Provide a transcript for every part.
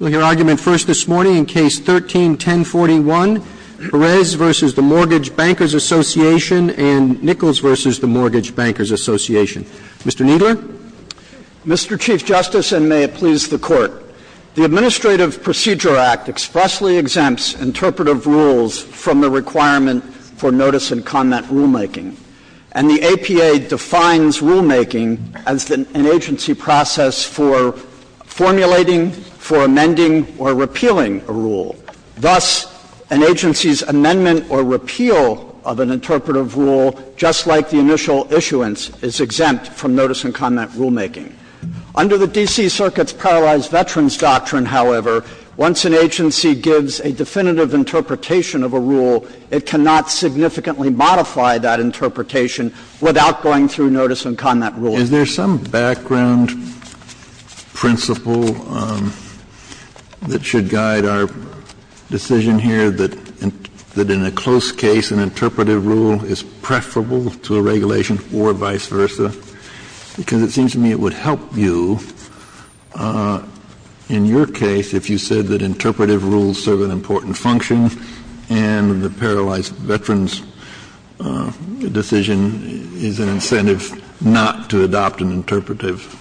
Mr. Kneedler. Mr. Chief Justice, and may it please the Court, the Administrative Procedure Act expressly exempts interpretive rules from the requirement for notice-and-comment rulemaking, and the APA defines rulemaking as an agency process for formulating rules that are not subject to interpretation. Under the D.C. Circuit's Paralyzed Veterans Doctrine, however, once an agency gives a definitive interpretation of a rule, it cannot significantly modify that interpretation without going through notice-and-comment rulemaking. Mr. Kneedler. Kennedy, there's a rule that should guide our decision here that in a close case an interpretive rule is preferable to a regulation or vice versa, because it seems to me it would help you in your case if you said that interpretive rules serve an important function and the paralyzed veterans decision is an incentive not to adopt an interpretive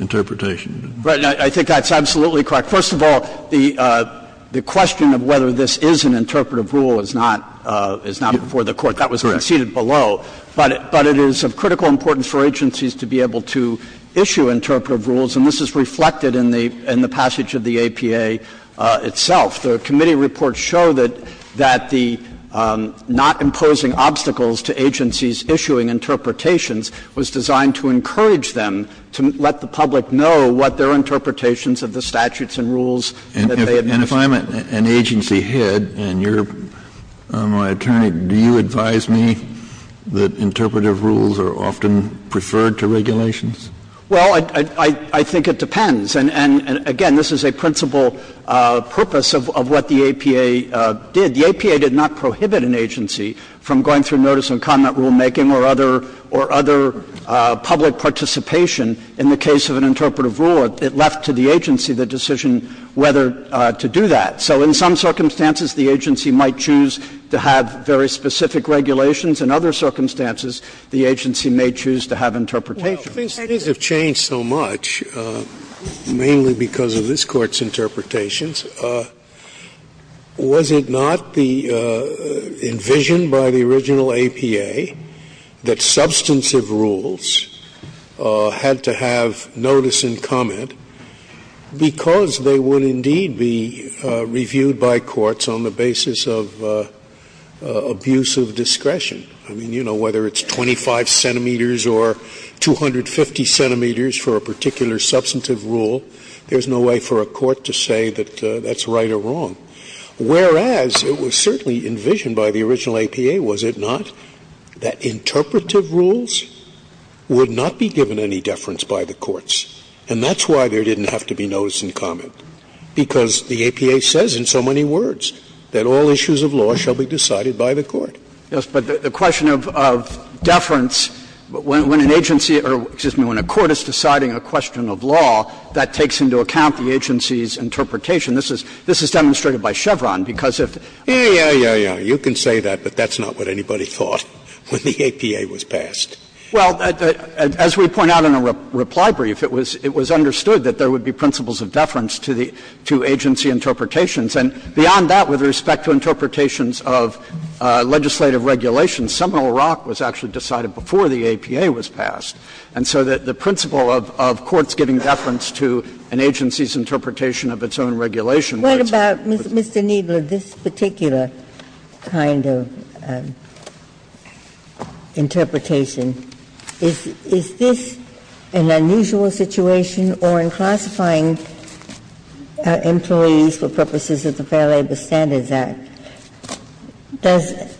interpretation. Kneedler, I think that's absolutely correct. First of all, the question of whether this is an interpretive rule is not before the Court. That was conceded below, but it is of critical importance for agencies to be able to issue interpretive rules, and this is reflected in the passage of the APA itself. The committee reports show that the not imposing obstacles to agencies issuing interpretations was designed to encourage them to let the public know what their interpretations of the statutes and rules that they had mentioned. Kennedy, if I'm an agency head and you're my attorney, do you advise me that interpretive rules are often preferred to regulations? Well, I think it depends. And again, this is a principal purpose of what the APA did. The APA did not prohibit an agency from going through notice and comment rulemaking or other public participation in the case of an interpretive rule. It left to the agency the decision whether to do that. So in some circumstances, the agency might choose to have very specific regulations. In other circumstances, the agency may choose to have interpretations. Scalia, these things have changed so much, mainly because of this Court's interpretations. Was it not the envision by the original APA that substantive rules had to have notice and comment because they would indeed be reviewed by courts on the basis of abuse of discretion? I mean, you know, whether it's 25 centimeters or 250 centimeters for a particular substantive rule, there's no way for a court to say that that's right or wrong. Whereas, it was certainly envisioned by the original APA, was it not, that interpretive rules would not be given any deference by the courts? And that's why there didn't have to be notice and comment, because the APA says in so many words that all issues of law shall be decided by the court. Yes, but the question of deference, when an agency or, excuse me, when a court is deciding a question of law, that takes into account the agency's interpretation. This is demonstrated by Chevron, because if the APA says, well, you can say that, but that's not what anybody thought when the APA was passed. Well, as we point out in a reply brief, it was understood that there would be principles of deference to agency interpretations. And beyond that, with respect to interpretations of legislative regulations, And so the principle of courts giving deference to an agency's interpretation of its own regulations. Ginsburg. What about, Mr. Kneedler, this particular kind of interpretation? Is this an unusual situation, or in classifying employees for purposes of the Fair Labor Standards Act,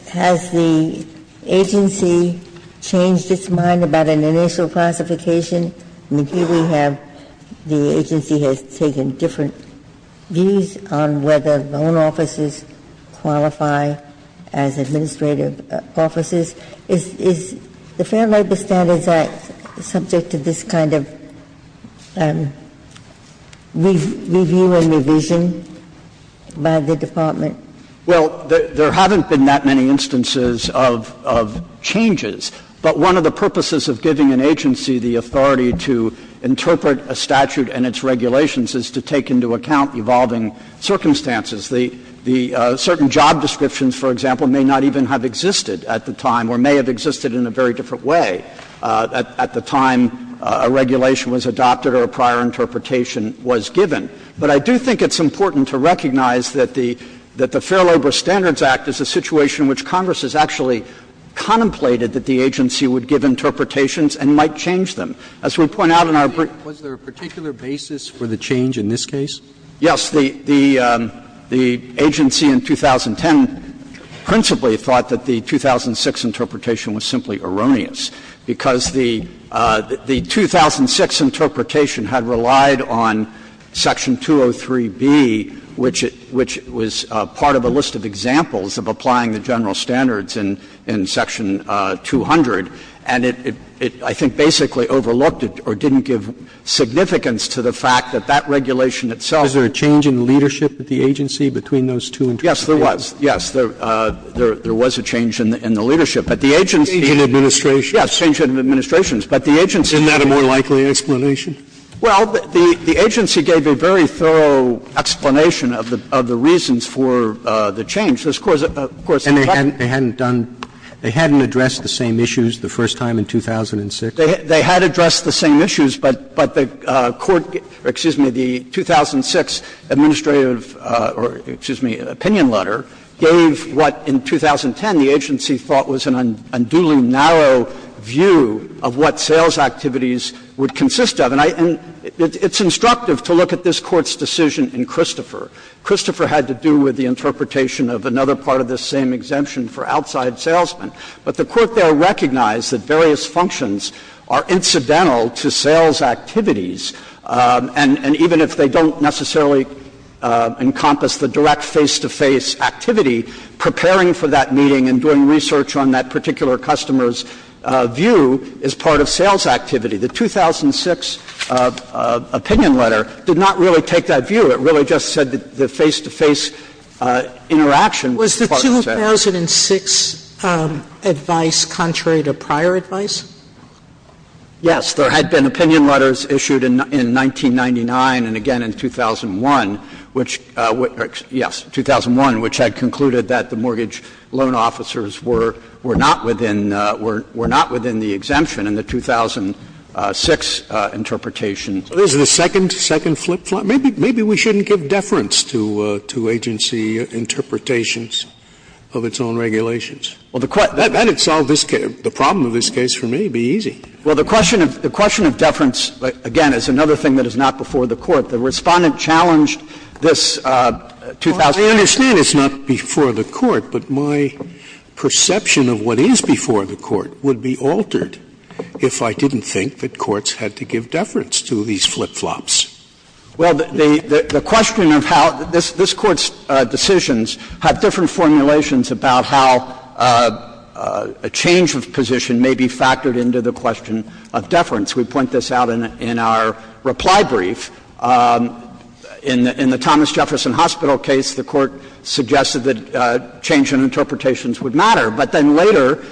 has the agency changed its mind about an initial classification? I mean, here we have the agency has taken different views on whether loan offices qualify as administrative offices. Is the Fair Labor Standards Act subject to this kind of review and revision by the department? Kneedler, Well, there haven't been that many instances of changes. But one of the purposes of giving an agency the authority to interpret a statute and its regulations is to take into account evolving circumstances. The certain job descriptions, for example, may not even have existed at the time or may have existed in a very different way at the time a regulation was adopted or a prior interpretation was given. But I do think it's important to recognize that the Fair Labor Standards Act is a situation in which Congress has actually contemplated that the agency would give interpretations and might change them. As we point out in our briefs. Roberts, Was there a particular basis for the change in this case? Kneedler, Yes. The agency in 2010 principally thought that the 2006 interpretation was simply erroneous, because the 2006 interpretation had relied on Section 203B, which was part of a list of examples of applying the general standards in Section 200. And it, I think, basically overlooked or didn't give significance to the fact that that regulation itself. Roberts, Was there a change in the leadership of the agency between those two interpretations? Kneedler, Yes, there was. Yes, there was a change in the leadership. But the agency didn't. Roberts, And the agency didn't give a more thorough explanation of the changes in the administration? Kneedler, Yes. The change in the administration. But the agency. Roberts, Isn't that a more likely explanation? Kneedler, Well, the agency gave a very thorough explanation of the reasons for the change. Of course, of course. Roberts, And they hadn't done, they hadn't addressed the same issues the first time in 2006? Kneedler, They had addressed the same issues, but the court, or excuse me, the 2006 administrative, or excuse me, opinion letter, gave what in 2010 the agency thought was an unduly narrow view of what sales activities would consist of. And I, and it's instructive to look at this Court's decision in Christopher. Christopher had to do with the interpretation of another part of this same exemption for outside salesmen. But the Court there recognized that various functions are incidental to sales activities, and even if they don't necessarily encompass the direct face-to-face activity, preparing for that meeting and doing research on that particular customer's view is part of sales activity. The 2006 opinion letter did not really take that view. It really just said that the face-to-face interaction was part of sales. Sotomayor Was the 2006 advice contrary to prior advice? Kneedler, Yes. There had been opinion letters issued in 1999 and again in 2001, which, yes, 2001, which had concluded that the mortgage loan officers were not within the exemption in the 2006 interpretation. Scalia. So this is the second flip-flop? Maybe we shouldn't give deference to agency interpretations of its own regulations. That would solve the problem of this case for me, it would be easy. Kneedler, Well, the question of deference, again, is another thing that is not before the Court. The Respondent challenged this 2006 case. Scalia. I understand it's not before the Court, but my perception of what is before the Court would be altered if I didn't think that courts had to give deference to these flip-flops. Kneedler, Well, the question of how this Court's decisions had different formulations about how a change of position may be factored into the question of deference. We point this out in our reply brief. In the Thomas Jefferson Hospital case, the Court suggested that change in interpretations would matter. But then later,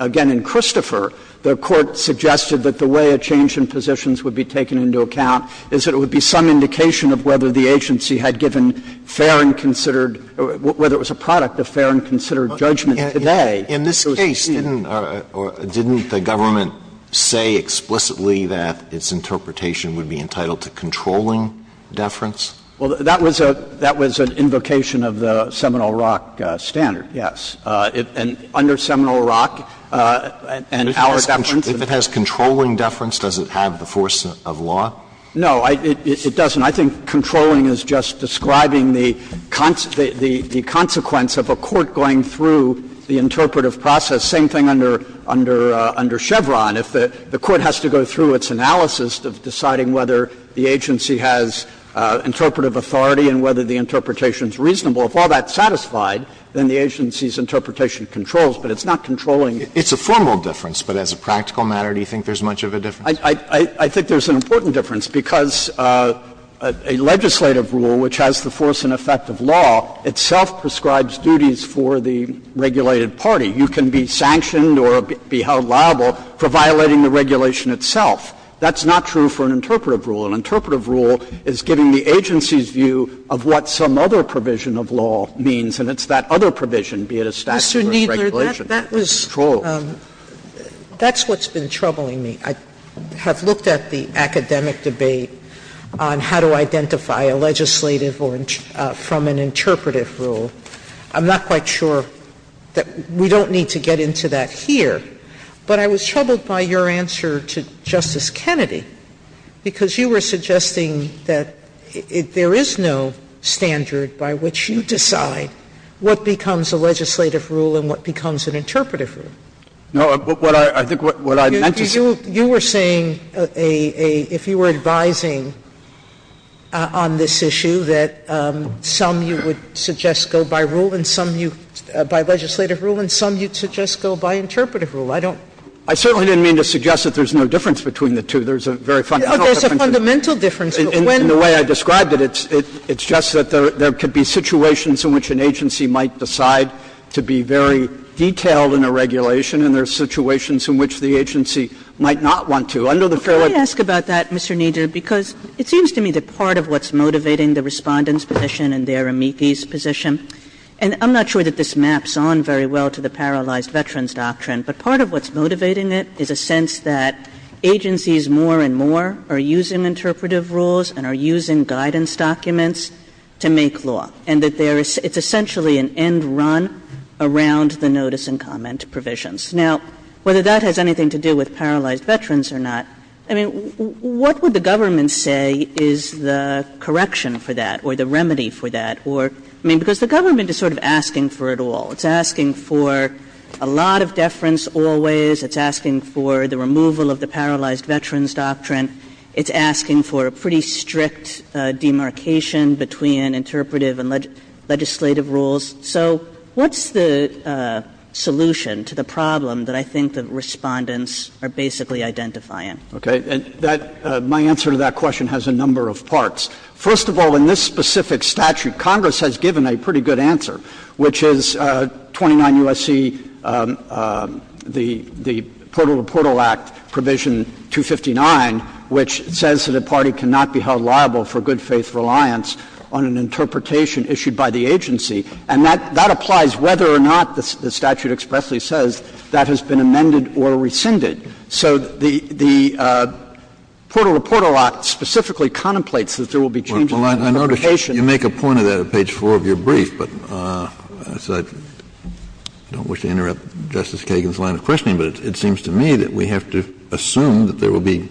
again in Christopher, the Court suggested that the way a change in positions would be taken into account is that it would be some indication of whether the agency had given fair and considered or whether it was a product of fair and considered judgment today. Alito, In this case, didn't the government say explicitly that its interpretation would be entitled to controlling deference? Kneedler, Well, that was an invocation of the Seminole Rock standard, yes. And under Seminole Rock, and our deference, and our deference, and our deference, Alito, If it has controlling deference, does it have the force of law? Kneedler, No, it doesn't. And I think controlling is just describing the consequence of a court going through the interpretive process. Same thing under Chevron. If the Court has to go through its analysis of deciding whether the agency has interpretive authority and whether the interpretation is reasonable, if all that's satisfied, then the agency's interpretation controls. But it's not controlling. Alito, It's a formal difference, but as a practical matter, do you think there's much of a difference? Kneedler, I think there's an important difference, because a legislative rule, which has the force and effect of law, itself prescribes duties for the regulated party. You can be sanctioned or be held liable for violating the regulation itself. That's not true for an interpretive rule. An interpretive rule is giving the agency's view of what some other provision of law means, and it's that other provision, be it a statute or a regulation. Sotomayor, Mr. Kneedler, that was, that's what's been troubling me. I have looked at the academic debate on how to identify a legislative or from an interpretive rule. I'm not quite sure that we don't need to get into that here, but I was troubled by your answer to Justice Kennedy, because you were suggesting that there is no standard by which you decide what becomes a legislative rule and what becomes an interpretive rule. Kneedler, I think what I meant to say is that there is no standard. No, what I think what I meant to say is that there is no standard. Sotomayor, you were saying a, if you were advising on this issue that some you would suggest go by rule and some you, by legislative rule and some you'd suggest go by interpretive rule. I don't. I certainly didn't mean to suggest that there's no difference between the two. There's a very fundamental difference. But there's a fundamental difference. In the way I described it, it's just that there could be situations in which an agency might decide to be very detailed in a regulation and there are situations in which the agency might not want to. Under the Fairway Provisions Act, there is no standard. Kagan Can I ask about that, Mr. Kneedler? Because it seems to me that part of what's motivating the Respondent's position and their amici's position, and I'm not sure that this maps on very well to the paralyzed veterans doctrine, but part of what's motivating it is a sense that agencies more and more are using interpretive rules and are using guidance documents to make law, and that there is, it's essentially an end run around the notice and comment provisions. Now, whether that has anything to do with paralyzed veterans or not, I mean, what would the government say is the correction for that or the remedy for that or, I mean, because the government is sort of asking for it all. It's asking for a lot of deference always, it's asking for the removal of the paralyzed veterans doctrine. It's asking for a pretty strict demarcation between interpretive and legislative rules. So what's the solution to the problem that I think the Respondents are basically identifying? Kneedler, Okay. And that, my answer to that question has a number of parts. First of all, in this specific statute, Congress has given a pretty good answer, which is 29 U.S.C., the Portal-to-Portal Act, Provision 259, which says that a party cannot be held liable for good-faith reliance on an interpretation issued by the agency. And that applies whether or not, the statute expressly says, that has been amended or rescinded. So the Portal-to-Portal Act specifically contemplates that there will be changes in interpretation. Kennedy, you make a point of that at page 4 of your brief, but I don't wish to interrupt Justice Kagan's line of questioning, but it seems to me that we have to assume that there will be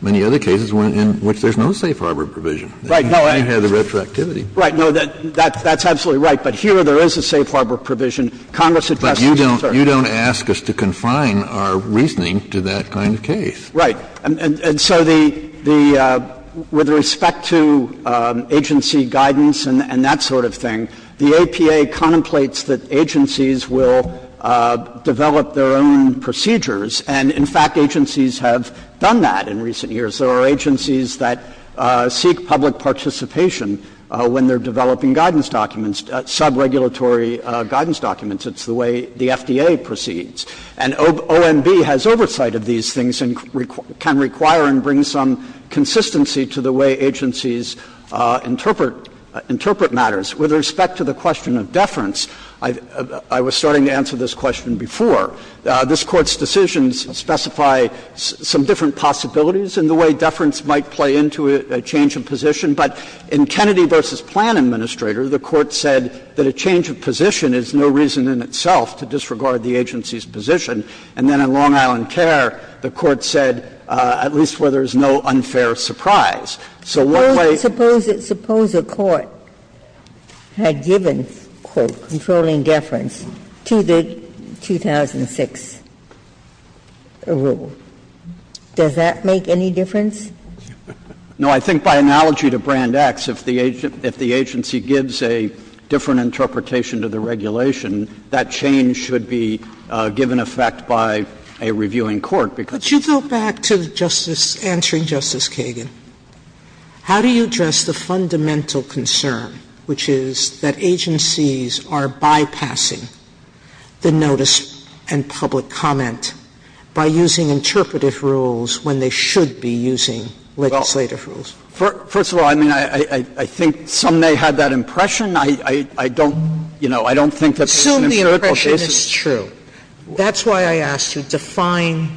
many other cases in which there's no safe harbor provision. Kneedler, Right. Kennedy, And you have the retroactivity. Kneedler, Right. No, that's absolutely right. But here there is a safe harbor provision. Congress addresses the concern. Kennedy, But you don't ask us to confine our reasoning to that kind of case. Kneedler, Right. And so the — with respect to agency guidance and that sort of thing, the APA contemplates that agencies will develop their own procedures, and, in fact, agencies have done that in recent years. There are agencies that seek public participation when they're developing guidance documents, sub-regulatory guidance documents. It's the way the FDA proceeds. And OMB has oversight of these things and can require and bring some consistency to the way agencies interpret matters. With respect to the question of deference, I was starting to answer this question before. This Court's decisions specify some different possibilities in the way deference might play into a change of position, but in Kennedy v. Plan Administrator, the Court said that a change of position is no reason in itself to disregard the agency's position. And then in Long Island Care, the Court said, at least where there's no unfair surprise. So what way do you think that's going to play into a change of position? Ginsburg Suppose a court had given, quote, controlling deference to the 2006 rule. Does that make any difference? Kneedler, No. I think by analogy to Brand X, if the agency gives a different interpretation to the regulation, that change should be given effect by a reviewing court. Sotomayor But you go back to Justice — answering Justice Kagan. How do you address the fundamental concern, which is that agencies are bypassing the notice and public comment by using interpretive rules when they should be using legislative rules? Kneedler First of all, I mean, I think some may have that impression. I don't, you know, I don't think that there's an empirical basis. Sotomayor Assume the impression is true. That's why I asked you to define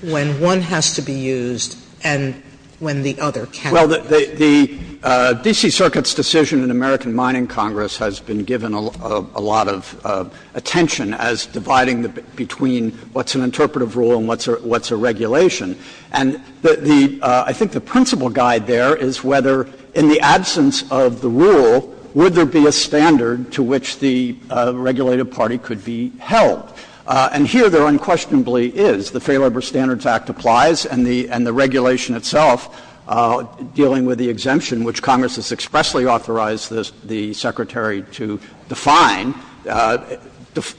when one has to be used and when the other can't be used. Kneedler Well, the D.C. Circuit's decision in the American Mining Congress has been given a lot of attention as dividing between what's an interpretive rule and what's a regulation. And the — I think the principal guide there is whether, in the absence of the rule, would there be a standard to which the regulated party could be held. And here there unquestionably is. The Fair Labor Standards Act applies, and the regulation itself, dealing with the exemption, which Congress has expressly authorized the Secretary to define,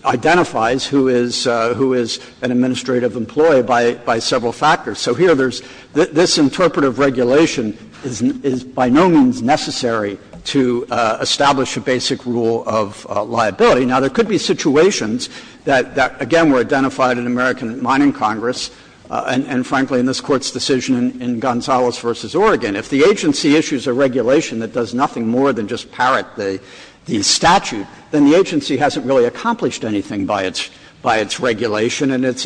identifies who is an administrative employee by several factors. So here there's — this interpretive regulation is by no means necessary to establish a basic rule of liability. Now, there could be situations that, again, were identified in American Mining Congress and, frankly, in this Court's decision in Gonzales v. Oregon. If the agency issues a regulation that does nothing more than just parrot the statute, then the agency hasn't really accomplished anything by its regulation and its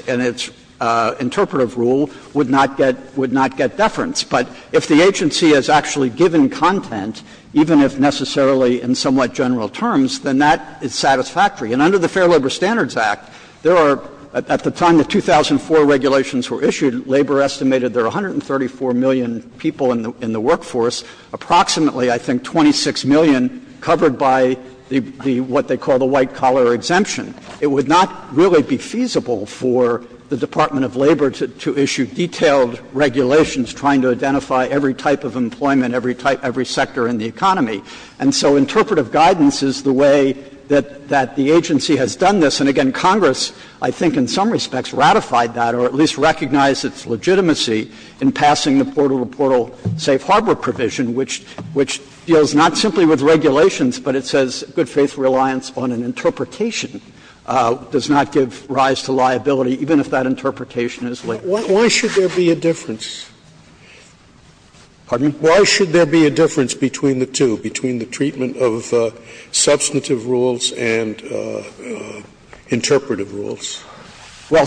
interpretive rule would not get — would not get deference. But if the agency has actually given content, even if necessarily in somewhat general terms, then that is satisfactory. And under the Fair Labor Standards Act, there are — at the time the 2004 regulations were issued, Labor estimated there were 134 million people in the workforce, approximately, I think, 26 million covered by the — what they call the white-collar exemption. It would not really be feasible for the Department of Labor to issue detailed regulations trying to identify every type of employment, every type — every sector in the economy. And so interpretive guidance is the way that the agency has done this. And, again, Congress, I think in some respects, ratified that or at least recognized its legitimacy in passing the portal-to-portal safe harbor provision, which deals not simply with regulations, but it says good-faith reliance on an interpretation does not give rise to liability, even if that interpretation is late. Scalia. But why should there be a difference? Pardon me? Why should there be a difference between the two, between the treatment of substantive rules and interpretive rules? Well,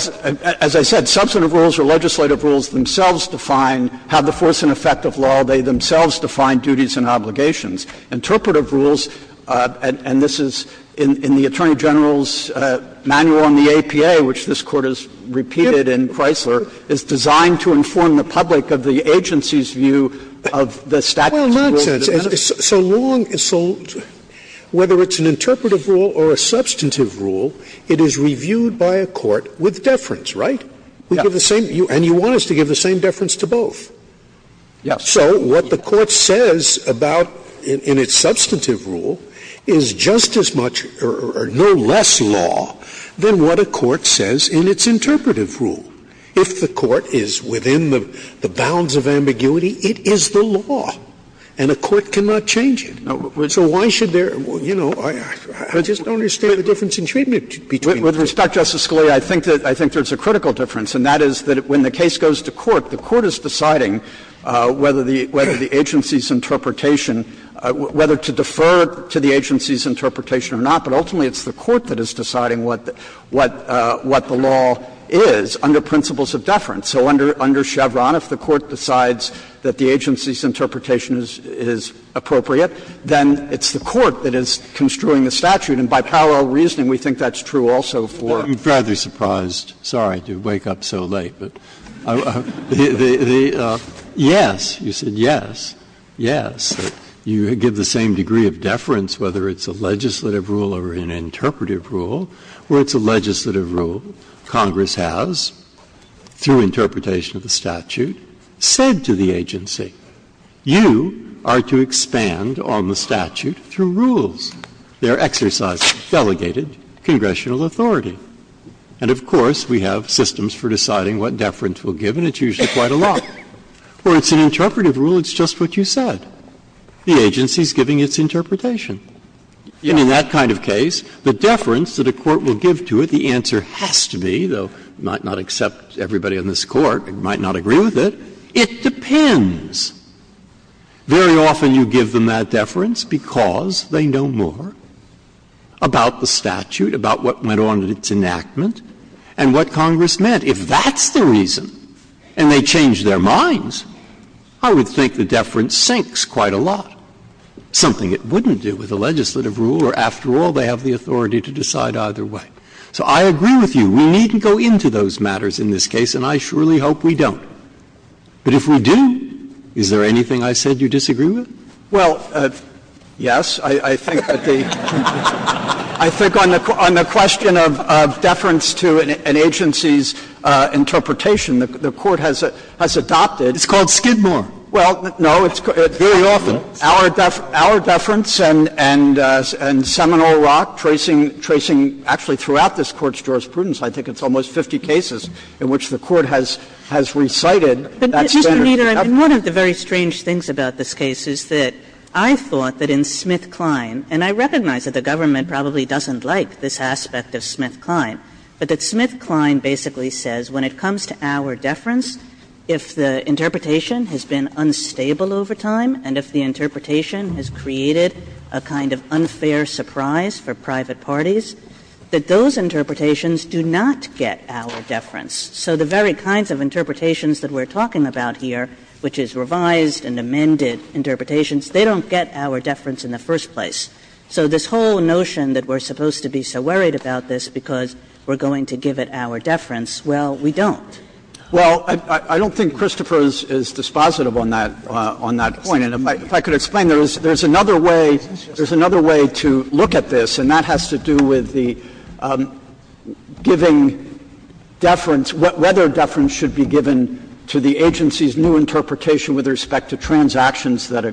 as I said, substantive rules or legislative rules themselves define how to force an effect of law. They themselves define duties and obligations. Interpretive rules, and this is in the Attorney General's manual on the APA, which this Court has repeated in Chrysler, is designed to inform the public of the agency's view of the statute. Well, not so long as — so whether it's an interpretive rule or a substantive rule, it is reviewed by a court with deference, right? We give the same — and you want us to give the same deference to both. Yes. So what the Court says about — in its substantive rule is just as much or no less law than what a court says in its interpretive rule. If the court is within the bounds of ambiguity, it is the law, and a court cannot change it. So why should there — you know, I just don't understand the difference in treatment between the two. With respect, Justice Scalia, I think that there's a critical difference, and that is that when the case goes to court, the court is deciding whether the agency's interpretation — whether to defer to the agency's interpretation or not, but ultimately it's the court that is deciding what the law is under principles of deference. So under Chevron, if the court decides that the agency's interpretation is appropriate, then it's the court that is construing the statute, and by parallel I'm sorry I'm so late, but the — yes, you said yes, yes. You give the same degree of deference whether it's a legislative rule or an interpretive rule. Where it's a legislative rule, Congress has, through interpretation of the statute, said to the agency, you are to expand on the statute through rules. They are exercised by delegated congressional authority. And of course, we have systems for deciding what deference we'll give, and it's usually quite a lot. Where it's an interpretive rule, it's just what you said. The agency is giving its interpretation. And in that kind of case, the deference that a court will give to it, the answer has to be, though you might not accept everybody on this Court, you might not agree with it, it depends. Very often you give them that deference because they know more about the statute, about what went on in its enactment, and what Congress meant. If that's the reason, and they change their minds, I would think the deference sinks quite a lot, something it wouldn't do with a legislative rule, or after all, they have the authority to decide either way. So I agree with you. We needn't go into those matters in this case, and I surely hope we don't. But if we do, is there anything I said you disagree with? Well, yes. I think that the question of deference to an agency's interpretation, the Court has adopted. It's called Skidmore. Well, no, it's very often our deference, and Seminole Rock tracing, tracing actually throughout this Court's jurisprudence, I think it's almost 50 cases in which the Court has recited that standard. And one of the very strange things about this case is that I thought that in Smith-Klein, and I recognize that the government probably doesn't like this aspect of Smith-Klein, but that Smith-Klein basically says when it comes to our deference, if the interpretation has been unstable over time and if the interpretation has created a kind of unfair surprise for private parties, that those interpretations do not get our deference. So the very kinds of interpretations that we're talking about here, which is revised and amended interpretations, they don't get our deference in the first place. So this whole notion that we're supposed to be so worried about this because we're going to give it our deference, well, we don't. Well, I don't think Christopher is dispositive on that point. And if I could explain, there's another way to look at this, and that has to do with the giving deference, whether deference should be given to the agency's new interpretation with respect to transactions that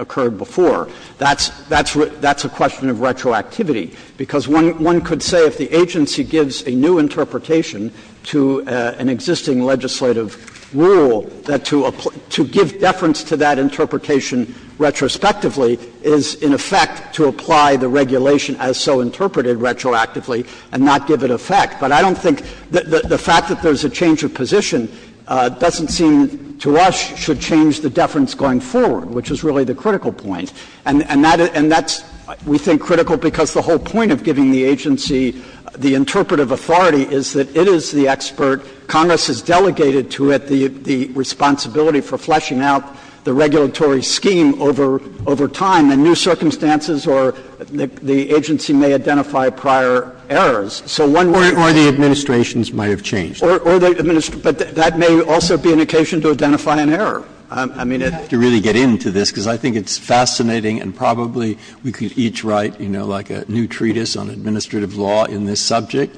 occurred before. That's a question of retroactivity, because one could say if the agency gives a new interpretation to an existing legislative rule, that to give deference to that interpretation retrospectively is, in effect, to apply the regulation as so interpreted retroactively and not give it effect. But I don't think the fact that there's a change of position doesn't seem to us should change the deference going forward, which is really the critical point. And that's, we think, critical because the whole point of giving the agency the interpretive authority is that it is the expert, Congress has delegated to it the responsibility for fleshing out the regulatory scheme over time, and new circumstances or the agency may identify prior errors. So one way to think of it is to give the agency the interpretive authority to do that. Breyer. But that may also be an occasion to identify an error. I mean, it's not a question of giving the agency the interpretive authority to do that. Breyer. But I have to really get into this, because I think it's fascinating, and probably we could each write, you know, like a new treatise on administrative law in this subject.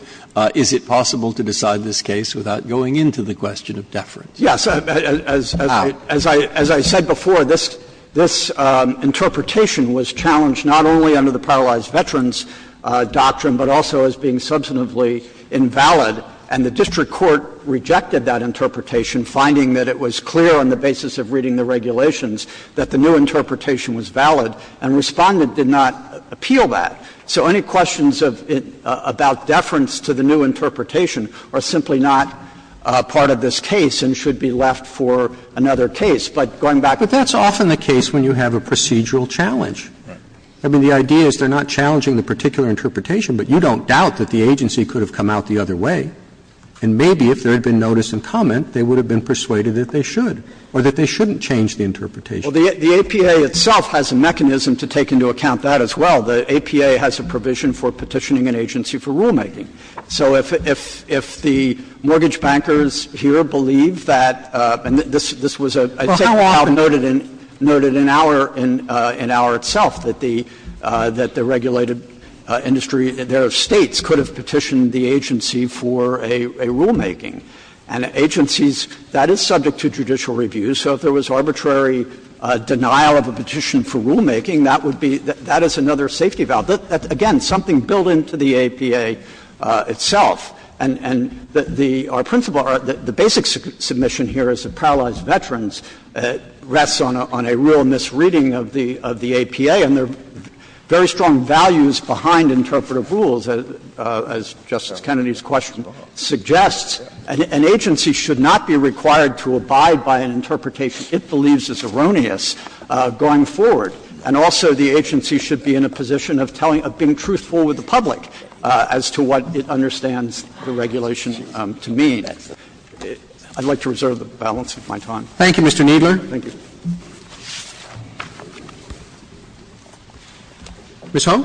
Is it possible to decide this case without going into the question of deference? How? Yes. As I said before, this interpretation was challenged not only under the paralyzed veterans doctrine, but also as being substantively invalid. And the district court rejected that interpretation, finding that it was clear on the basis of reading the regulations that the new interpretation was valid, and Respondent did not appeal that. So any questions of the new interpretation are simply not part of this case and should be left for another case. But going back to the question of deference, I mean, that's often the case when you have a procedural challenge. I mean, the idea is they're not challenging the particular interpretation, but you don't doubt that the agency could have come out the other way. And maybe if there had been notice and comment, they would have been persuaded that they should or that they shouldn't change the interpretation. Well, the APA itself has a mechanism to take into account that as well. The APA has a provision for petitioning an agency for rulemaking. So if the mortgage bankers here believe that, and this was a statement noted in Auer itself, that the regulated industry, their States could have petitioned the agency for a rulemaking. And agencies, that is subject to judicial review. So if there was arbitrary denial of a petition for rulemaking, that would be — that is another safety valve. Again, something built into the APA itself. And the — our principle, the basic submission here is that paralyzed veterans rests on a real misreading of the APA. And there are very strong values behind interpretive rules, as Justice Kennedy's question suggests. An agency should not be required to abide by an interpretation it believes is erroneous going forward. And also, the agency should be in a position of telling — of being truthful with the public as to what it understands the regulation to mean. I'd like to reserve the balance of my time. Thank you, Mr. Kneedler. Thank you. Ms. Hull?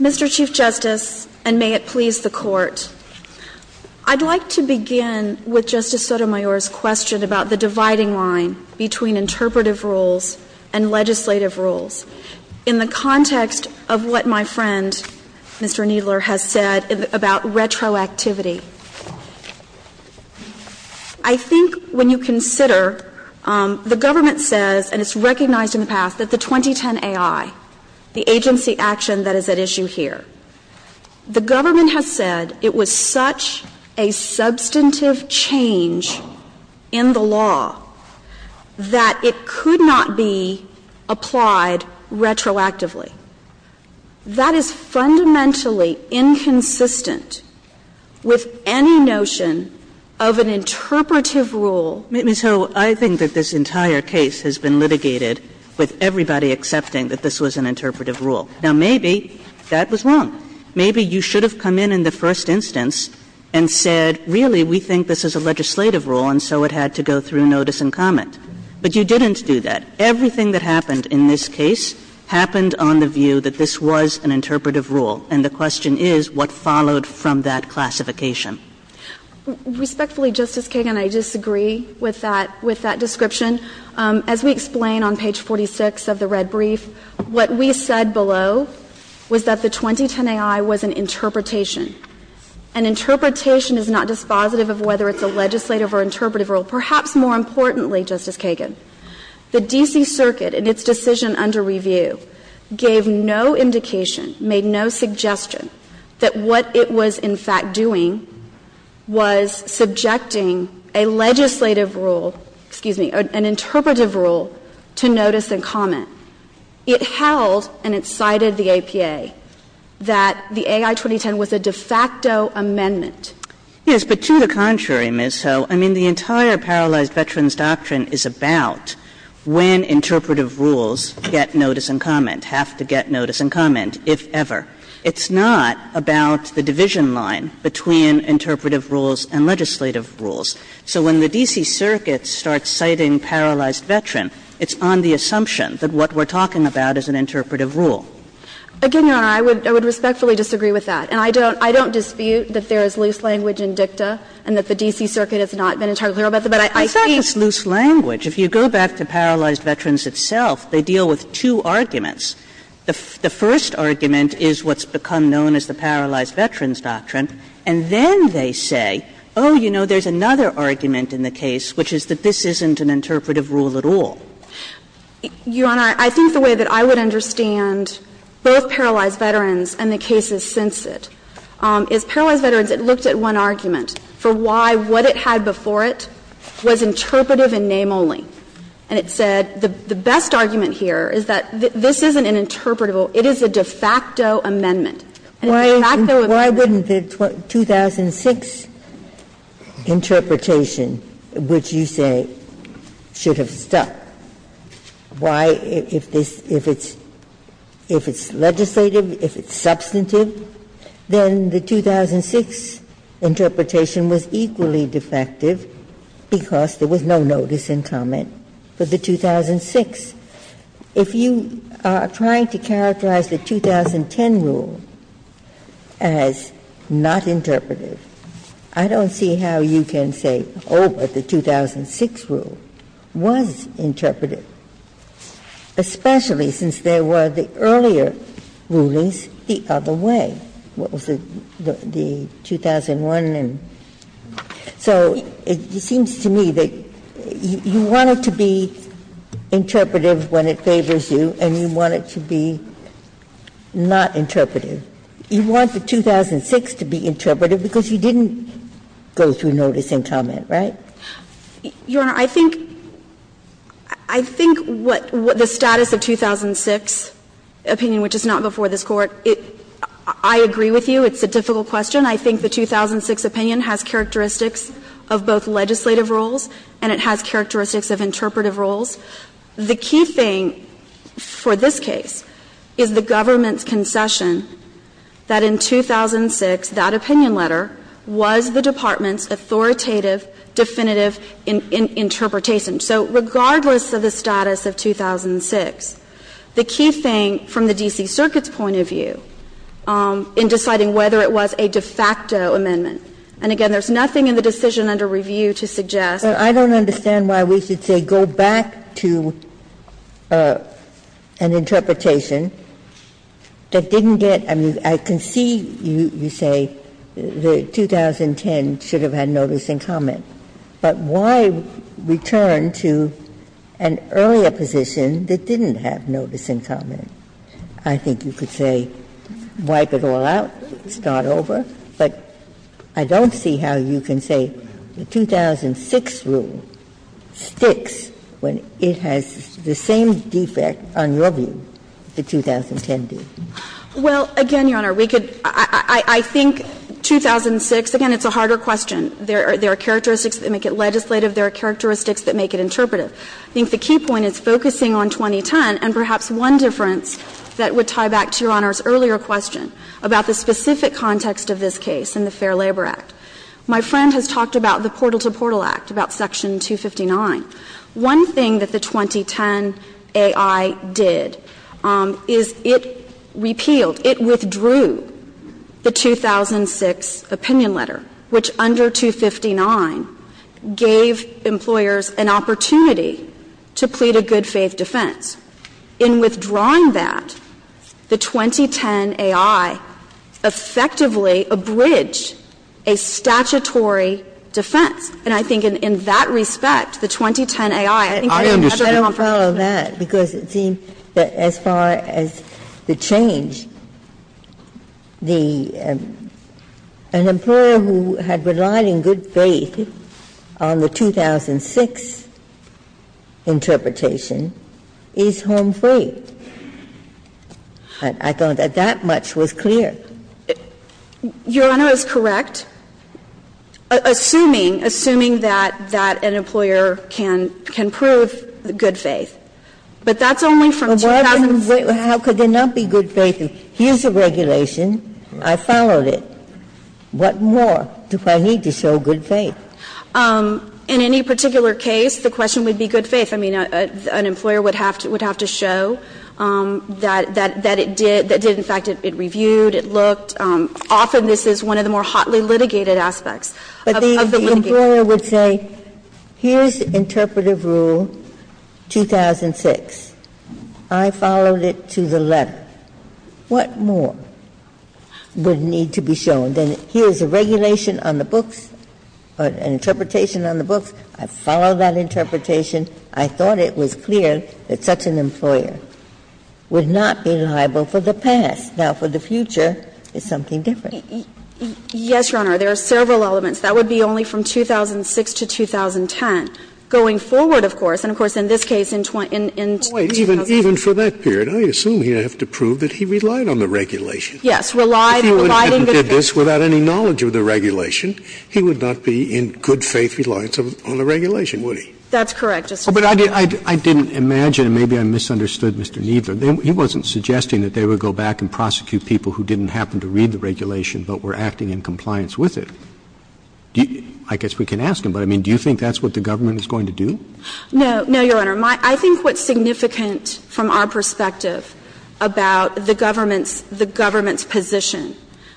Mr. Chief Justice, and may it please the Court, I'd like to begin with Justice Sotomayor's question about the dividing line between interpretive rules and legislative rules in the context of what my friend, Mr. Kneedler, has said about retroactivity. I think when you consider — the government says, and it's recognized in the past, that the 2010 AI, the agency action that is at issue here, the government has said it was such a substantive change in the law that it could not be applied to the agency as it was applied retroactively. That is fundamentally inconsistent with any notion of an interpretive rule. Ms. Hull, I think that this entire case has been litigated with everybody accepting that this was an interpretive rule. Now, maybe that was wrong. Maybe you should have come in in the first instance and said, really, we think this is a legislative rule, and so it had to go through notice and comment. But you didn't do that. Everything that happened in this case happened on the view that this was an interpretive rule, and the question is what followed from that classification. Respectfully, Justice Kagan, I disagree with that — with that description. As we explain on page 46 of the red brief, what we said below was that the 2010 AI was an interpretation. An interpretation is not dispositive of whether it's a legislative or interpretive rule. Perhaps more importantly, Justice Kagan, the D.C. Circuit in its decision under review gave no indication, made no suggestion, that what it was in fact doing was subjecting a legislative rule — excuse me, an interpretive rule to notice and comment. It held, and it cited the APA, that the AI-2010 was a de facto amendment. Yes, but to the contrary, Ms. Ho. I mean, the entire paralyzed veterans' doctrine is about when interpretive rules get notice and comment, have to get notice and comment, if ever. It's not about the division line between interpretive rules and legislative rules. So when the D.C. Circuit starts citing paralyzed veteran, it's on the assumption that what we're talking about is an interpretive rule. Again, Your Honor, I would respectfully disagree with that. And I don't dispute that there is loose language in dicta and that the D.C. Circuit has not been entirely clear about that. But I think that's loose language. If you go back to paralyzed veterans itself, they deal with two arguments. The first argument is what's become known as the paralyzed veterans' doctrine. And then they say, oh, you know, there's another argument in the case, which is that this isn't an interpretive rule at all. Your Honor, I think the way that I would understand both paralyzed veterans and the D.C. Circuit is, paralyzed veterans, it looked at one argument for why what it had before it was interpretive in name only. And it said the best argument here is that this isn't an interpretive rule, it is a de facto amendment. And it's a de facto amendment. Ginsburg-Miller Why wouldn't the 2006 interpretation, which you say should have been de facto, be de facto, if it's legislative, if it's substantive, then the 2006 interpretation was equally defective because there was no notice in comment for the 2006. If you are trying to characterize the 2010 rule as not interpretive, I don't see how you can say, oh, but the 2006 rule was interpretive, especially since there were the earlier rulings the other way. What was it, the 2001 and so it seems to me that you want it to be interpretive when it favors you and you want it to be not interpretive. You want the 2006 to be interpretive because you didn't go through notice in comment, Anderson-Miller Your Honor, I think the status of 2006 opinion, which is not before this Court, I agree with you, it's a difficult question. I think the 2006 opinion has characteristics of both legislative rules and it has characteristics of interpretive rules. The key thing for this case is the government's concession that in 2006, that opinion letter was the department's authoritative, definitive interpretation. So regardless of the status of 2006, the key thing from the D.C. Circuit's point of view in deciding whether it was a de facto amendment, and again, there's nothing in the decision under review to suggest. Ginsburg-Miller But I don't understand why we should say go back to an interpretation that didn't get, I mean, I can see you say the 2010 should have had notice in comment, but why return to an earlier position that didn't have notice in comment? I think you could say wipe it all out, start over, but I don't see how you can say the 2006 rule sticks when it has the same defect, on your view, the 2010 did. Well, again, Your Honor, we could – I think 2006, again, it's a harder question. There are characteristics that make it legislative, there are characteristics that make it interpretive. I think the key point is focusing on 2010 and perhaps one difference that would tie back to Your Honor's earlier question about the specific context of this case in the Fair Labor Act. My friend has talked about the Portal to Portal Act, about Section 259. One thing that the 2010 AI did is it repealed, it withdrew the 2006 opinion letter, which under 259 gave employers an opportunity to plead a good faith defense. In withdrawing that, the 2010 AI effectively abridged a statutory defense. And I think in that respect, the 2010 AI, I think it's a better comparison. Ginsburg. I don't follow that, because it seems that as far as the change, the – an employer who had relied in good faith on the 2006 interpretation is home free. I thought that that much was clear. Your Honor is correct, assuming, assuming that that an employer can prove good faith. But that's only from 2008. How could there not be good faith? Here's a regulation, I followed it. What more do I need to show good faith? In any particular case, the question would be good faith. I mean, an employer would have to show that it did, in fact, it reviewed, it looked. Often this is one of the more hotly litigated aspects of the litigation. But the employer would say, here's interpretive rule 2006, I followed it to the letter. What more would need to be shown? Then here's a regulation on the books, an interpretation on the books, I followed that interpretation. I thought it was clear that such an employer would not be liable for the past. Now, for the future, it's something different. Yes, Your Honor. There are several elements. That would be only from 2006 to 2010. Going forward, of course, and of course in this case in 20 – in 2008. Scalia, even for that period, I assume he would have to prove that he relied on the regulation. Yes, relied, relied on the regulation. If he did this without any knowledge of the regulation, he would not be in good faith reliance on the regulation, would he? That's correct, Justice Scalia. But I didn't imagine, and maybe I misunderstood Mr. Kneedler, he wasn't suggesting that they would go back and prosecute people who didn't happen to read the regulation but were acting in compliance with it. I guess we can ask him, but I mean, do you think that's what the government is going to do? No. No, Your Honor. I think what's significant from our perspective about the government's – the government's position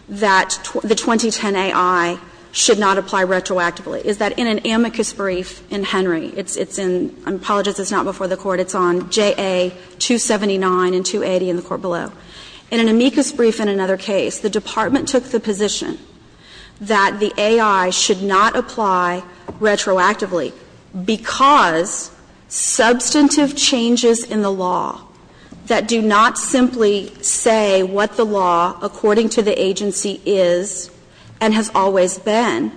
that the 2010 AI should not apply retroactively is that in an amicus brief in Henry, it's in – I apologize, it's not before the Court. It's on JA 279 and 280 in the Court below. In an amicus brief in another case, the Department took the position that the AI should not apply retroactively because substantive changes in the law that do not simply say what the law according to the agency is and has always been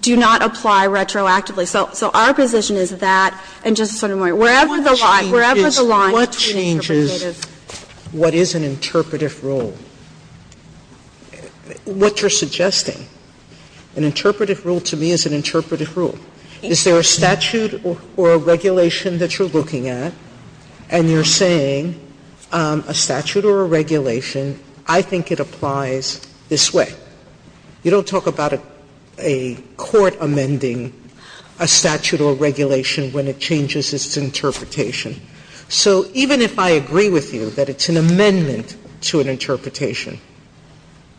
do not apply retroactively. So our position is that, and Justice Sotomayor, wherever the line, wherever the line between interpretative is. Sotomayor, what changes what is an interpretative rule? What you're suggesting, an interpretative rule to me is an interpretative rule. Is there a statute or a regulation that you're looking at, and you're saying a statute or a regulation, I think it applies this way. You don't talk about a court amending a statute or regulation when it changes its interpretation. So even if I agree with you that it's an amendment to an interpretation,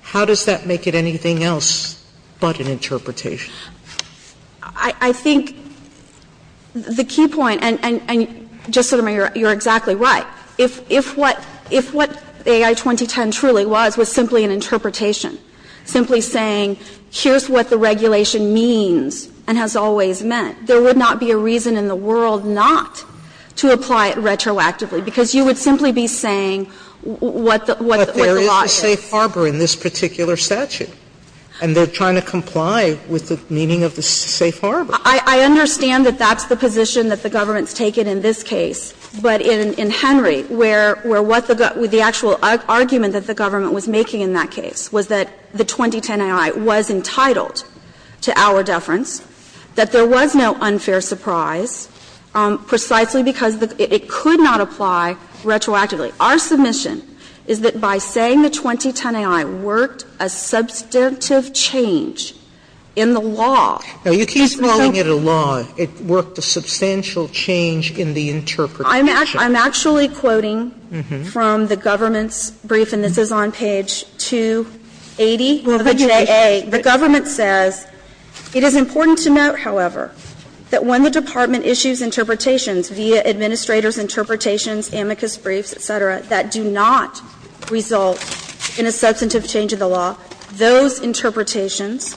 how does that make it anything else but an interpretation? I think the key point, and Justice Sotomayor, you're exactly right. If what AI 2010 truly was was simply an interpretation, simply saying here's what the regulation means and has always meant, there would not be a reason in the world not to apply it retroactively, because you would simply be saying what the law is. Sotomayor, but there is a safe harbor in this particular statute, and they're trying to comply with the meaning of the safe harbor. I understand that that's the position that the government's taken in this case, but in Henry, where what the actual argument that the government was making in that case was that the 2010 AI was entitled to our deference, that there was no unfair surprise, precisely because it could not apply retroactively. Our submission is that by saying the 2010 AI worked a substantive change in the law. Sotomayor, you keep calling it a law. It worked a substantial change in the interpretation. I'm actually quoting from the government's brief, and this is on page 280 of the JA. The government says, it is important to note, however, that when the department issues interpretations via administrator's interpretations, amicus briefs, et cetera, that do not result in a substantive change in the law, those interpretations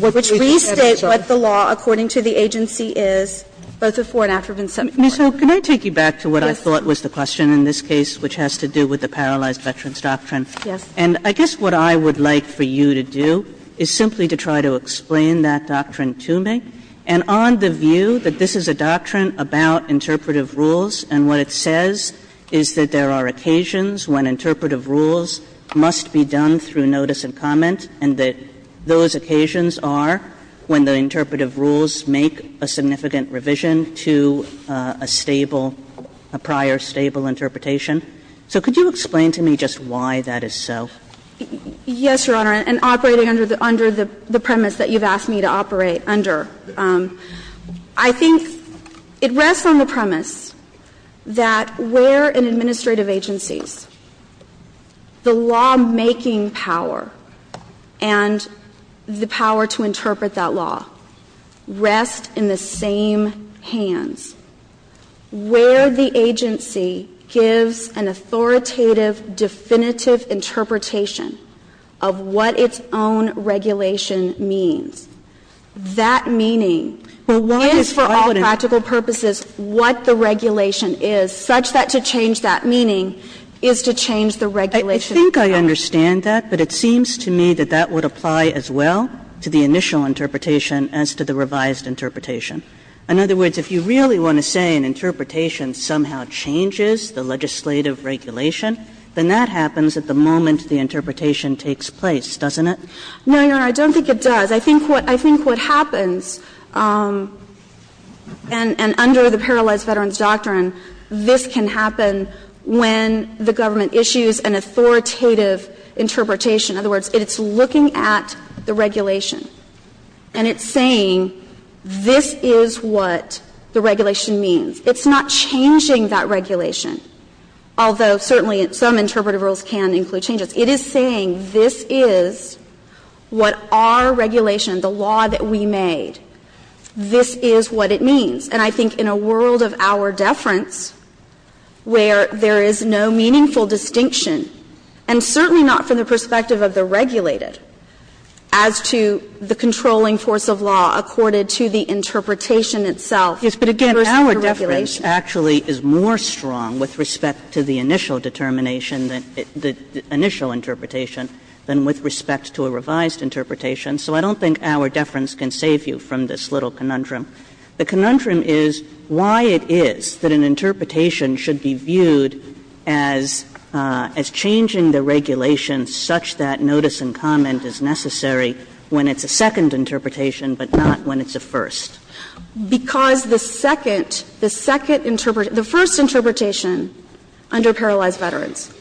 which restate what the law according to the agency is, both before and after it's been submitted. Ms. Hill, can I take you back to what I thought was the question in this case, which has to do with the Paralyzed Veterans Doctrine? Yes. And I guess what I would like for you to do is simply to try to explain that doctrine to me, and on the view that this is a doctrine about interpretive rules, and what it says is that there are occasions when interpretive rules must be done through notice and comment, and that those occasions are when the interpretive rules make a significant revision to a stable, a prior stable interpretation. So could you explain to me just why that is so? Yes, Your Honor. And operating under the premise that you've asked me to operate under, I think it rests on the premise that where an administrative agency's, the law-making power and the power to interpret that law rest in the same hands, where the agency gives an authoritative, definitive interpretation of what its own regulation means. That meaning is, for all practical purposes, what the regulation is, such that to change that meaning is to change the regulation. I think I understand that, but it seems to me that that would apply as well to the initial interpretation as to the revised interpretation. In other words, if you really want to say an interpretation somehow changes the legislative regulation, then that happens at the moment the interpretation takes place, doesn't it? No, Your Honor, I don't think it does. I think what happens, and under the Paralyzed Veterans Doctrine, this can happen when the government issues an authoritative interpretation. In other words, it's looking at the regulation, and it's saying, this is what the regulation means. It's not changing that regulation, although certainly some interpretive rules can include changes. It is saying, this is what our regulation, the law that we made, this is what it means. And I think in a world of our deference, where there is no meaningful distinction, and certainly not from the perspective of the regulated, as to the controlling force of law accorded to the interpretation itself versus the regulation. Yes, but again, our deference actually is more strong with respect to the initial determination, the initial interpretation, than with respect to a revised interpretation. So I don't think our deference can save you from this little conundrum. The conundrum is why it is that an interpretation should be viewed as changing the regulation such that notice and comment is necessary when it's a second interpretation, but not when it's a first. Because the second, the second, the first interpretation under Paralyzed Veterans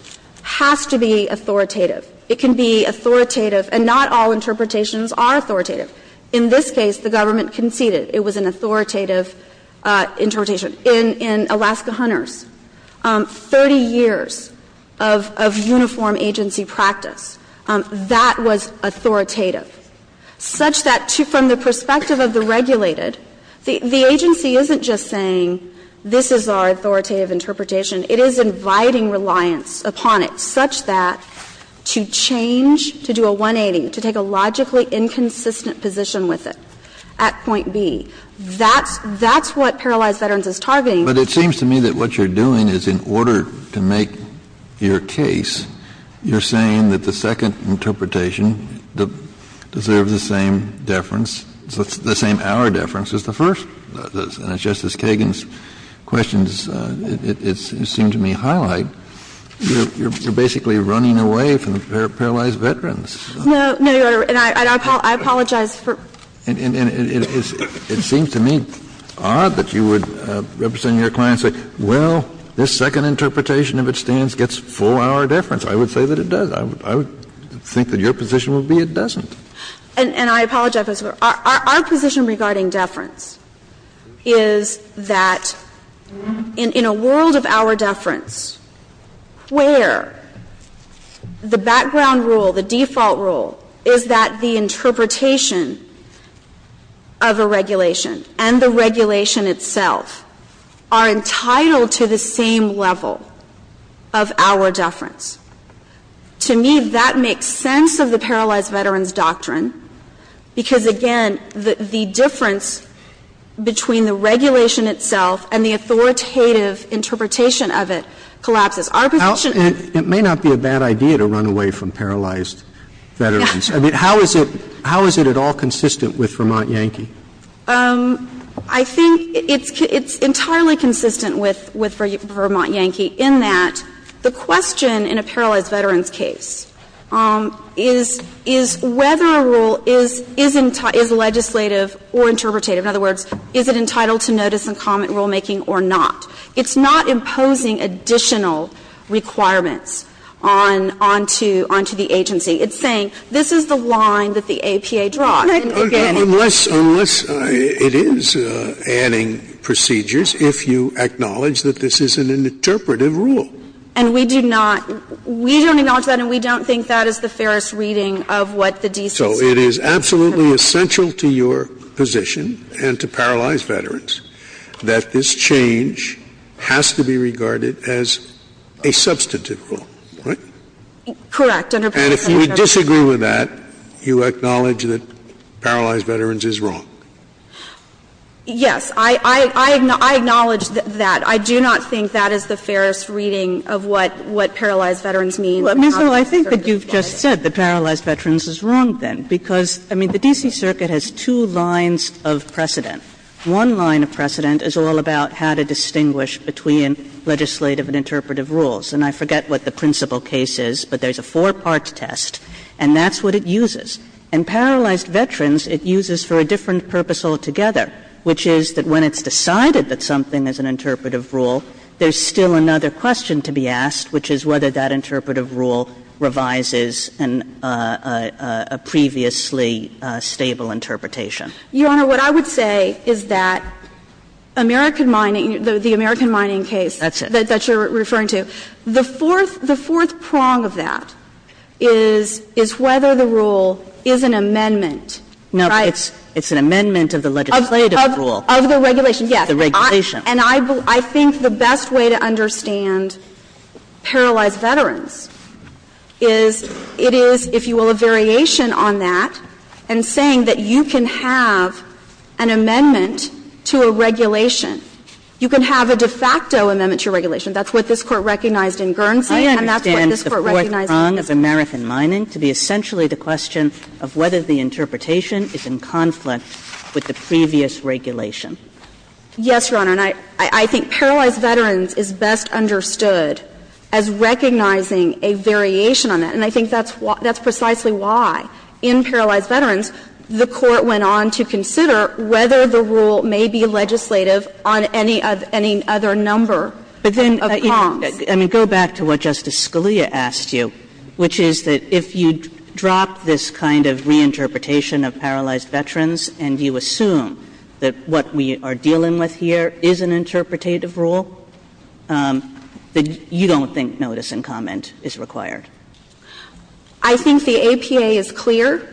has to be authoritative. It can be authoritative, and not all interpretations are authoritative. In this case, the government conceded. It was an authoritative interpretation. In Alaska Hunters, 30 years of uniform agency practice, that was authoritative. Such that from the perspective of the regulated, the agency isn't just saying this is our authoritative interpretation. It is inviting reliance upon it such that to change, to do a 180, to take a logically inconsistent position with it at point B, that's what Paralyzed Veterans is targeting. Kennedy, but it seems to me that what you're doing is in order to make your case, you're saying that the second interpretation deserves the same deference, the same our deference as the first. And it's just as Kagan's questions, it seemed to me, highlight. You're basically running away from the Paralyzed Veterans. No, no, Your Honor. And I apologize for ---- And it seems to me odd that you would, representing your client, say, well, this second interpretation, if it stands, gets full our deference. I would say that it does. I would think that your position would be it doesn't. And I apologize, but our position regarding deference is that in a world of our deference, where the background rule, the default rule, is that the interpretation of a regulation and the regulation itself are entitled to the same level of our deference. To me, that makes sense of the Paralyzed Veterans Doctrine because, again, the difference between the regulation itself and the authoritative interpretation of it collapses. Our position ---- It may not be a bad idea to run away from Paralyzed Veterans. I mean, how is it at all consistent with Vermont Yankee? I think it's entirely consistent with Vermont Yankee in that the question in a Paralyzed Veterans case is whether a rule is legislative or interpretative. In other words, is it entitled to notice and comment rulemaking or not? It's not imposing additional requirements on to the agency. It's saying this is the line that the APA draws. And again ---- Okay. Unless it is adding procedures if you acknowledge that this is an interpretative rule. And we do not ---- we don't acknowledge that and we don't think that is the fairest reading of what the D.C. says. So it is absolutely essential to your position and to Paralyzed Veterans that this change has to be regarded as a substantive rule, right? Correct. And if we disagree with that, you acknowledge that Paralyzed Veterans is wrong? Yes. I acknowledge that. I do not think that is the fairest reading of what Paralyzed Veterans means. I mean, so I think that you've just said that Paralyzed Veterans is wrong, then. Because, I mean, the D.C. Circuit has two lines of precedent. One line of precedent is all about how to distinguish between legislative and interpretative rules. And I forget what the principal case is, but there's a four-part test, and that's what it uses. And Paralyzed Veterans it uses for a different purpose altogether, which is that when it's decided that something is an interpretative rule, there's still another question to be asked, which is whether that interpretative rule revises a previously stable interpretation. Your Honor, what I would say is that American mining, the American mining case that you're referring to, the fourth prong of that is whether the rule is an amendment. No, it's an amendment of the legislative rule. Of the regulation, yes. The regulation. And I think the best way to understand Paralyzed Veterans is it is, if you will, a variation on that in saying that you can have an amendment to a regulation. You can have a de facto amendment to a regulation. That's what this Court recognized in Guernsey. And that's what this Court recognized in Guernsey. I understand the fourth prong of American mining to be essentially the question of whether the interpretation is in conflict with the previous regulation. Yes, Your Honor. And I think Paralyzed Veterans is best understood as recognizing a variation on that. And I think that's precisely why in Paralyzed Veterans the Court went on to consider whether the rule may be legislative on any other number of prongs. But then, I mean, go back to what Justice Scalia asked you, which is that if you drop this kind of reinterpretation of Paralyzed Veterans and you assume that what we are dealing with here is an interpretative rule, then you don't think notice and comment is required. I think the APA is clear.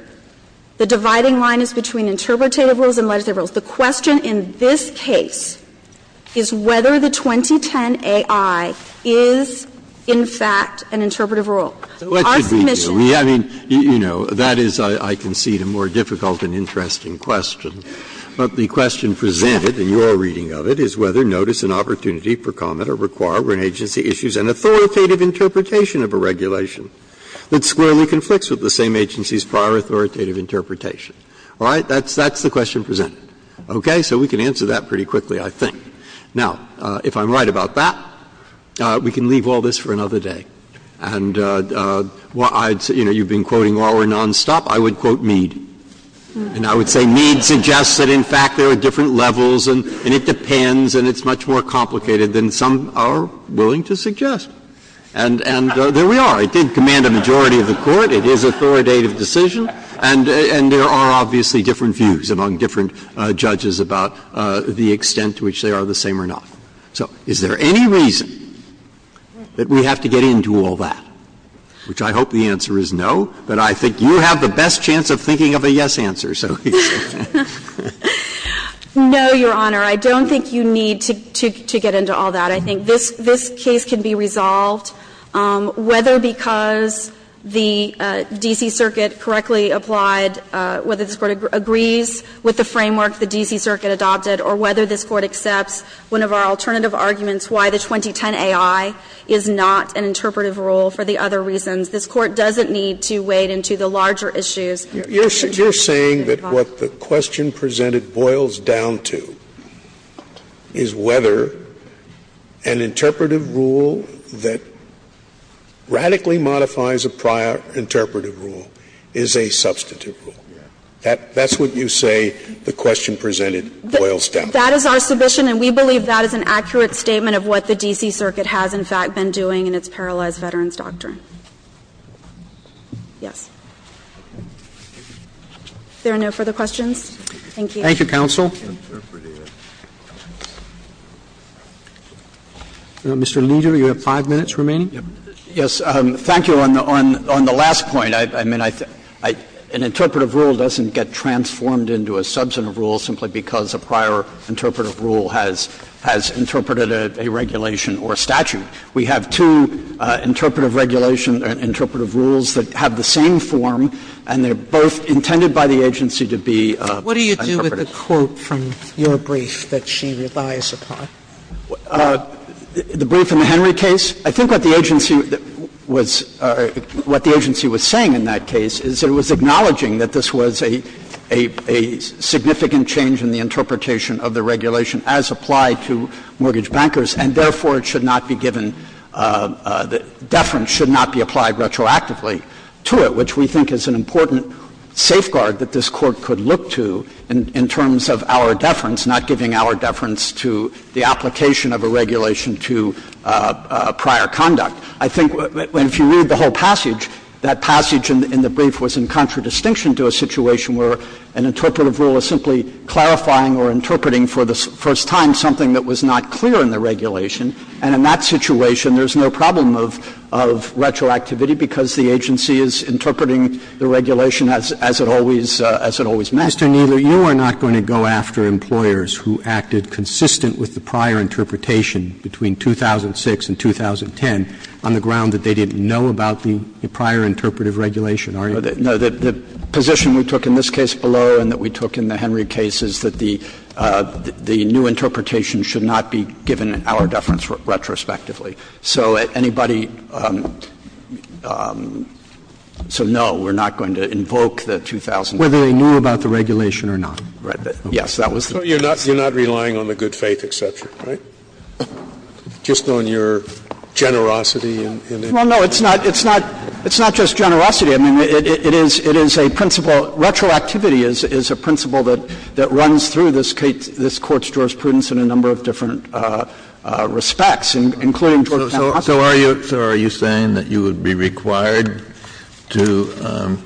The dividing line is between interpretative rules and legislative rules. The question in this case is whether the 2010 AI is, in fact, an interpretative rule. So what should we do? I mean, you know, that is, I concede, a more difficult and interesting question. But the question presented in your reading of it is whether notice and opportunity for comment are required when an agency issues an authoritative interpretation of a regulation that squarely conflicts with the same agency's prior authoritative interpretation. All right? That's the question presented. Okay? So we can answer that pretty quickly, I think. Now, if I'm right about that, we can leave all this for another day. And, well, I'd say, you know, you've been quoting Roehr nonstop, I would quote Mead. And I would say Mead suggests that, in fact, there are different levels and it depends and it's much more complicated than some are willing to suggest. And there we are. It did command a majority of the Court. It is an authoritative decision. And there are obviously different views among different judges about the extent to which they are the same or not. So is there any reason that we have to get into all that, which I hope the answer is no, but I think you have the best chance of thinking of a yes answer, so to speak. No, Your Honor. I don't think you need to get into all that. I think this case can be resolved, whether because the D.C. Circuit correctly applied, whether this Court agrees with the framework the D.C. Circuit adopted, or whether this Court accepts one of our alternative arguments why the 2010 AI is not an interpretive rule for the other reasons. This Court doesn't need to wade into the larger issues. You're saying that what the question presented boils down to is whether an interpretive rule that radically modifies a prior interpretive rule is a substantive rule. That's what you say the question presented boils down to. That is our submission, and we believe that is an accurate statement of what the D.C. Circuit has, in fact, been doing in its paralyzed veterans doctrine. Yes. If there are no further questions, thank you. Thank you, counsel. Mr. Leder, you have five minutes remaining. Yes. Thank you. On the last point, I mean, an interpretive rule doesn't get transformed into a substantive rule simply because a prior interpretive rule has interpreted a regulation or a statute. We have two interpretive regulation or interpretive rules that have the same form, and they're both intended by the agency to be interpretive. What do you do with the quote from your brief that she relies upon? The brief in the Henry case, I think what the agency was saying in that case is that it was acknowledging that this was a significant change in the interpretation of the regulation as applied to mortgage bankers, and therefore, it should not be given the deference should not be applied retroactively to it, which we think is an important safeguard that this Court could look to in terms of our deference, not giving our deference to the application of a regulation to prior conduct. I think if you read the whole passage, that passage in the brief was in contradistinction to a situation where an interpretive rule is simply clarifying or interpreting for the first time something that was not clear in the regulation. And in that situation, there's no problem of retroactivity because the agency is interpreting the regulation as it always, as it always meant. Mr. Kneedler, you are not going to go after employers who acted consistent with the prior interpretation between 2006 and 2010 on the ground that they didn't know about the prior interpretive regulation, are you? No. The position we took in this case below and that we took in the Henry case is that the new interpretation should not be given our deference retrospectively. So anybody — so no, we're not going to invoke the 2010 rule. Whether they knew about the regulation or not. Right. Yes, that was the point. So you're not relying on the good faith exception, right? Just on your generosity in interpreting? Well, no, it's not, it's not, it's not just generosity. I mean, it is, it is a principle, retroactivity is a principle that, that runs through this case, this Court's jurisprudence in a number of different respects, including towards the counsel. So are you, so are you saying that you would be required to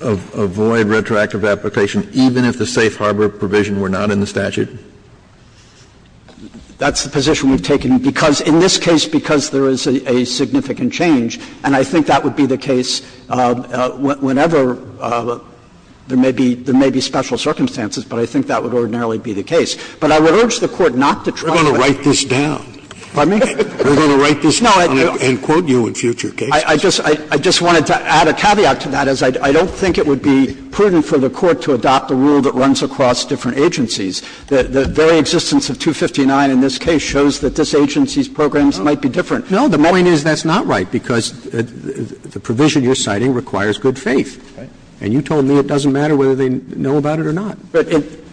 avoid retroactive application even if the safe harbor provision were not in the statute? That's the position we've taken because in this case, because there is a significant change, and I think that would be the case whenever there may be, there may be special circumstances, but I think that would ordinarily be the case. But I would urge the Court not to trust that. We're going to write this down. Pardon me? We're going to write this down and quote you in future cases. No, I just, I just wanted to add a caveat to that, as I don't think it would be prudent for the Court to adopt a rule that runs across different agencies. The very existence of 259 in this case shows that this agency's programs might be different. No, the point is that's not right, because the provision you're citing requires good faith. And you told me it doesn't matter whether they know about it or not.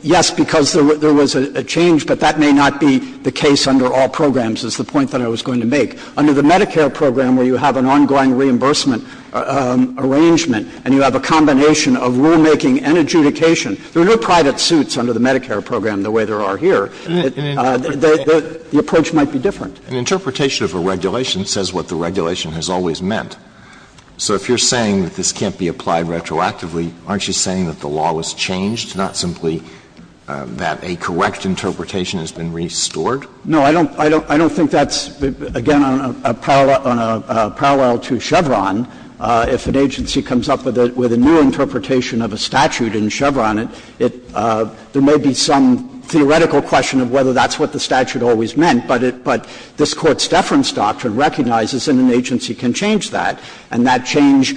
Yes, because there was a change, but that may not be the case under all programs as the point that I was going to make. Under the Medicare program, where you have an ongoing reimbursement arrangement and you have a combination of rulemaking and adjudication, there are no private suits under the Medicare program the way there are here. The approach might be different. An interpretation of a regulation says what the regulation has always meant. So if you're saying that this can't be applied retroactively, aren't you saying that the law was changed, not simply that a correct interpretation has been restored? No, I don't think that's, again, on a parallel to Chevron. If an agency comes up with a new interpretation of a statute in Chevron, it may be some theoretical question of whether that's what the statute always meant, but this Court's deference doctrine recognizes that an agency can change that, and that change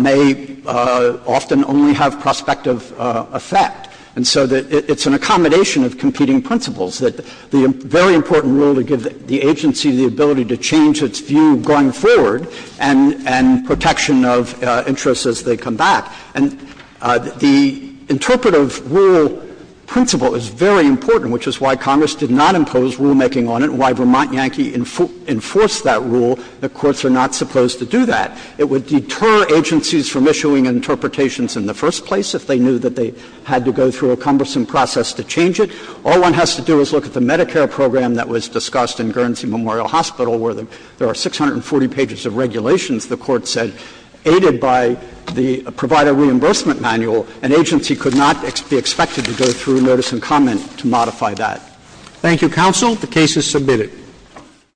may often only have prospective effect. And so it's an accommodation of competing principles, that the very important rule to give the agency the ability to change its view going forward and protection of interests as they come back. And the interpretive rule principle is very important, which is why Congress did not impose rulemaking on it and why Vermont Yankee enforced that rule. The courts are not supposed to do that. It would deter agencies from issuing interpretations in the first place if they knew that they had to go through a cumbersome process to change it. All one has to do is look at the Medicare program that was discussed in Guernsey Memorial Hospital where there are 640 pages of regulations, the Court said, aided by the provider reimbursement manual. An agency could not be expected to go through notice and comment to modify that. Roberts. Thank you, counsel. The case is submitted.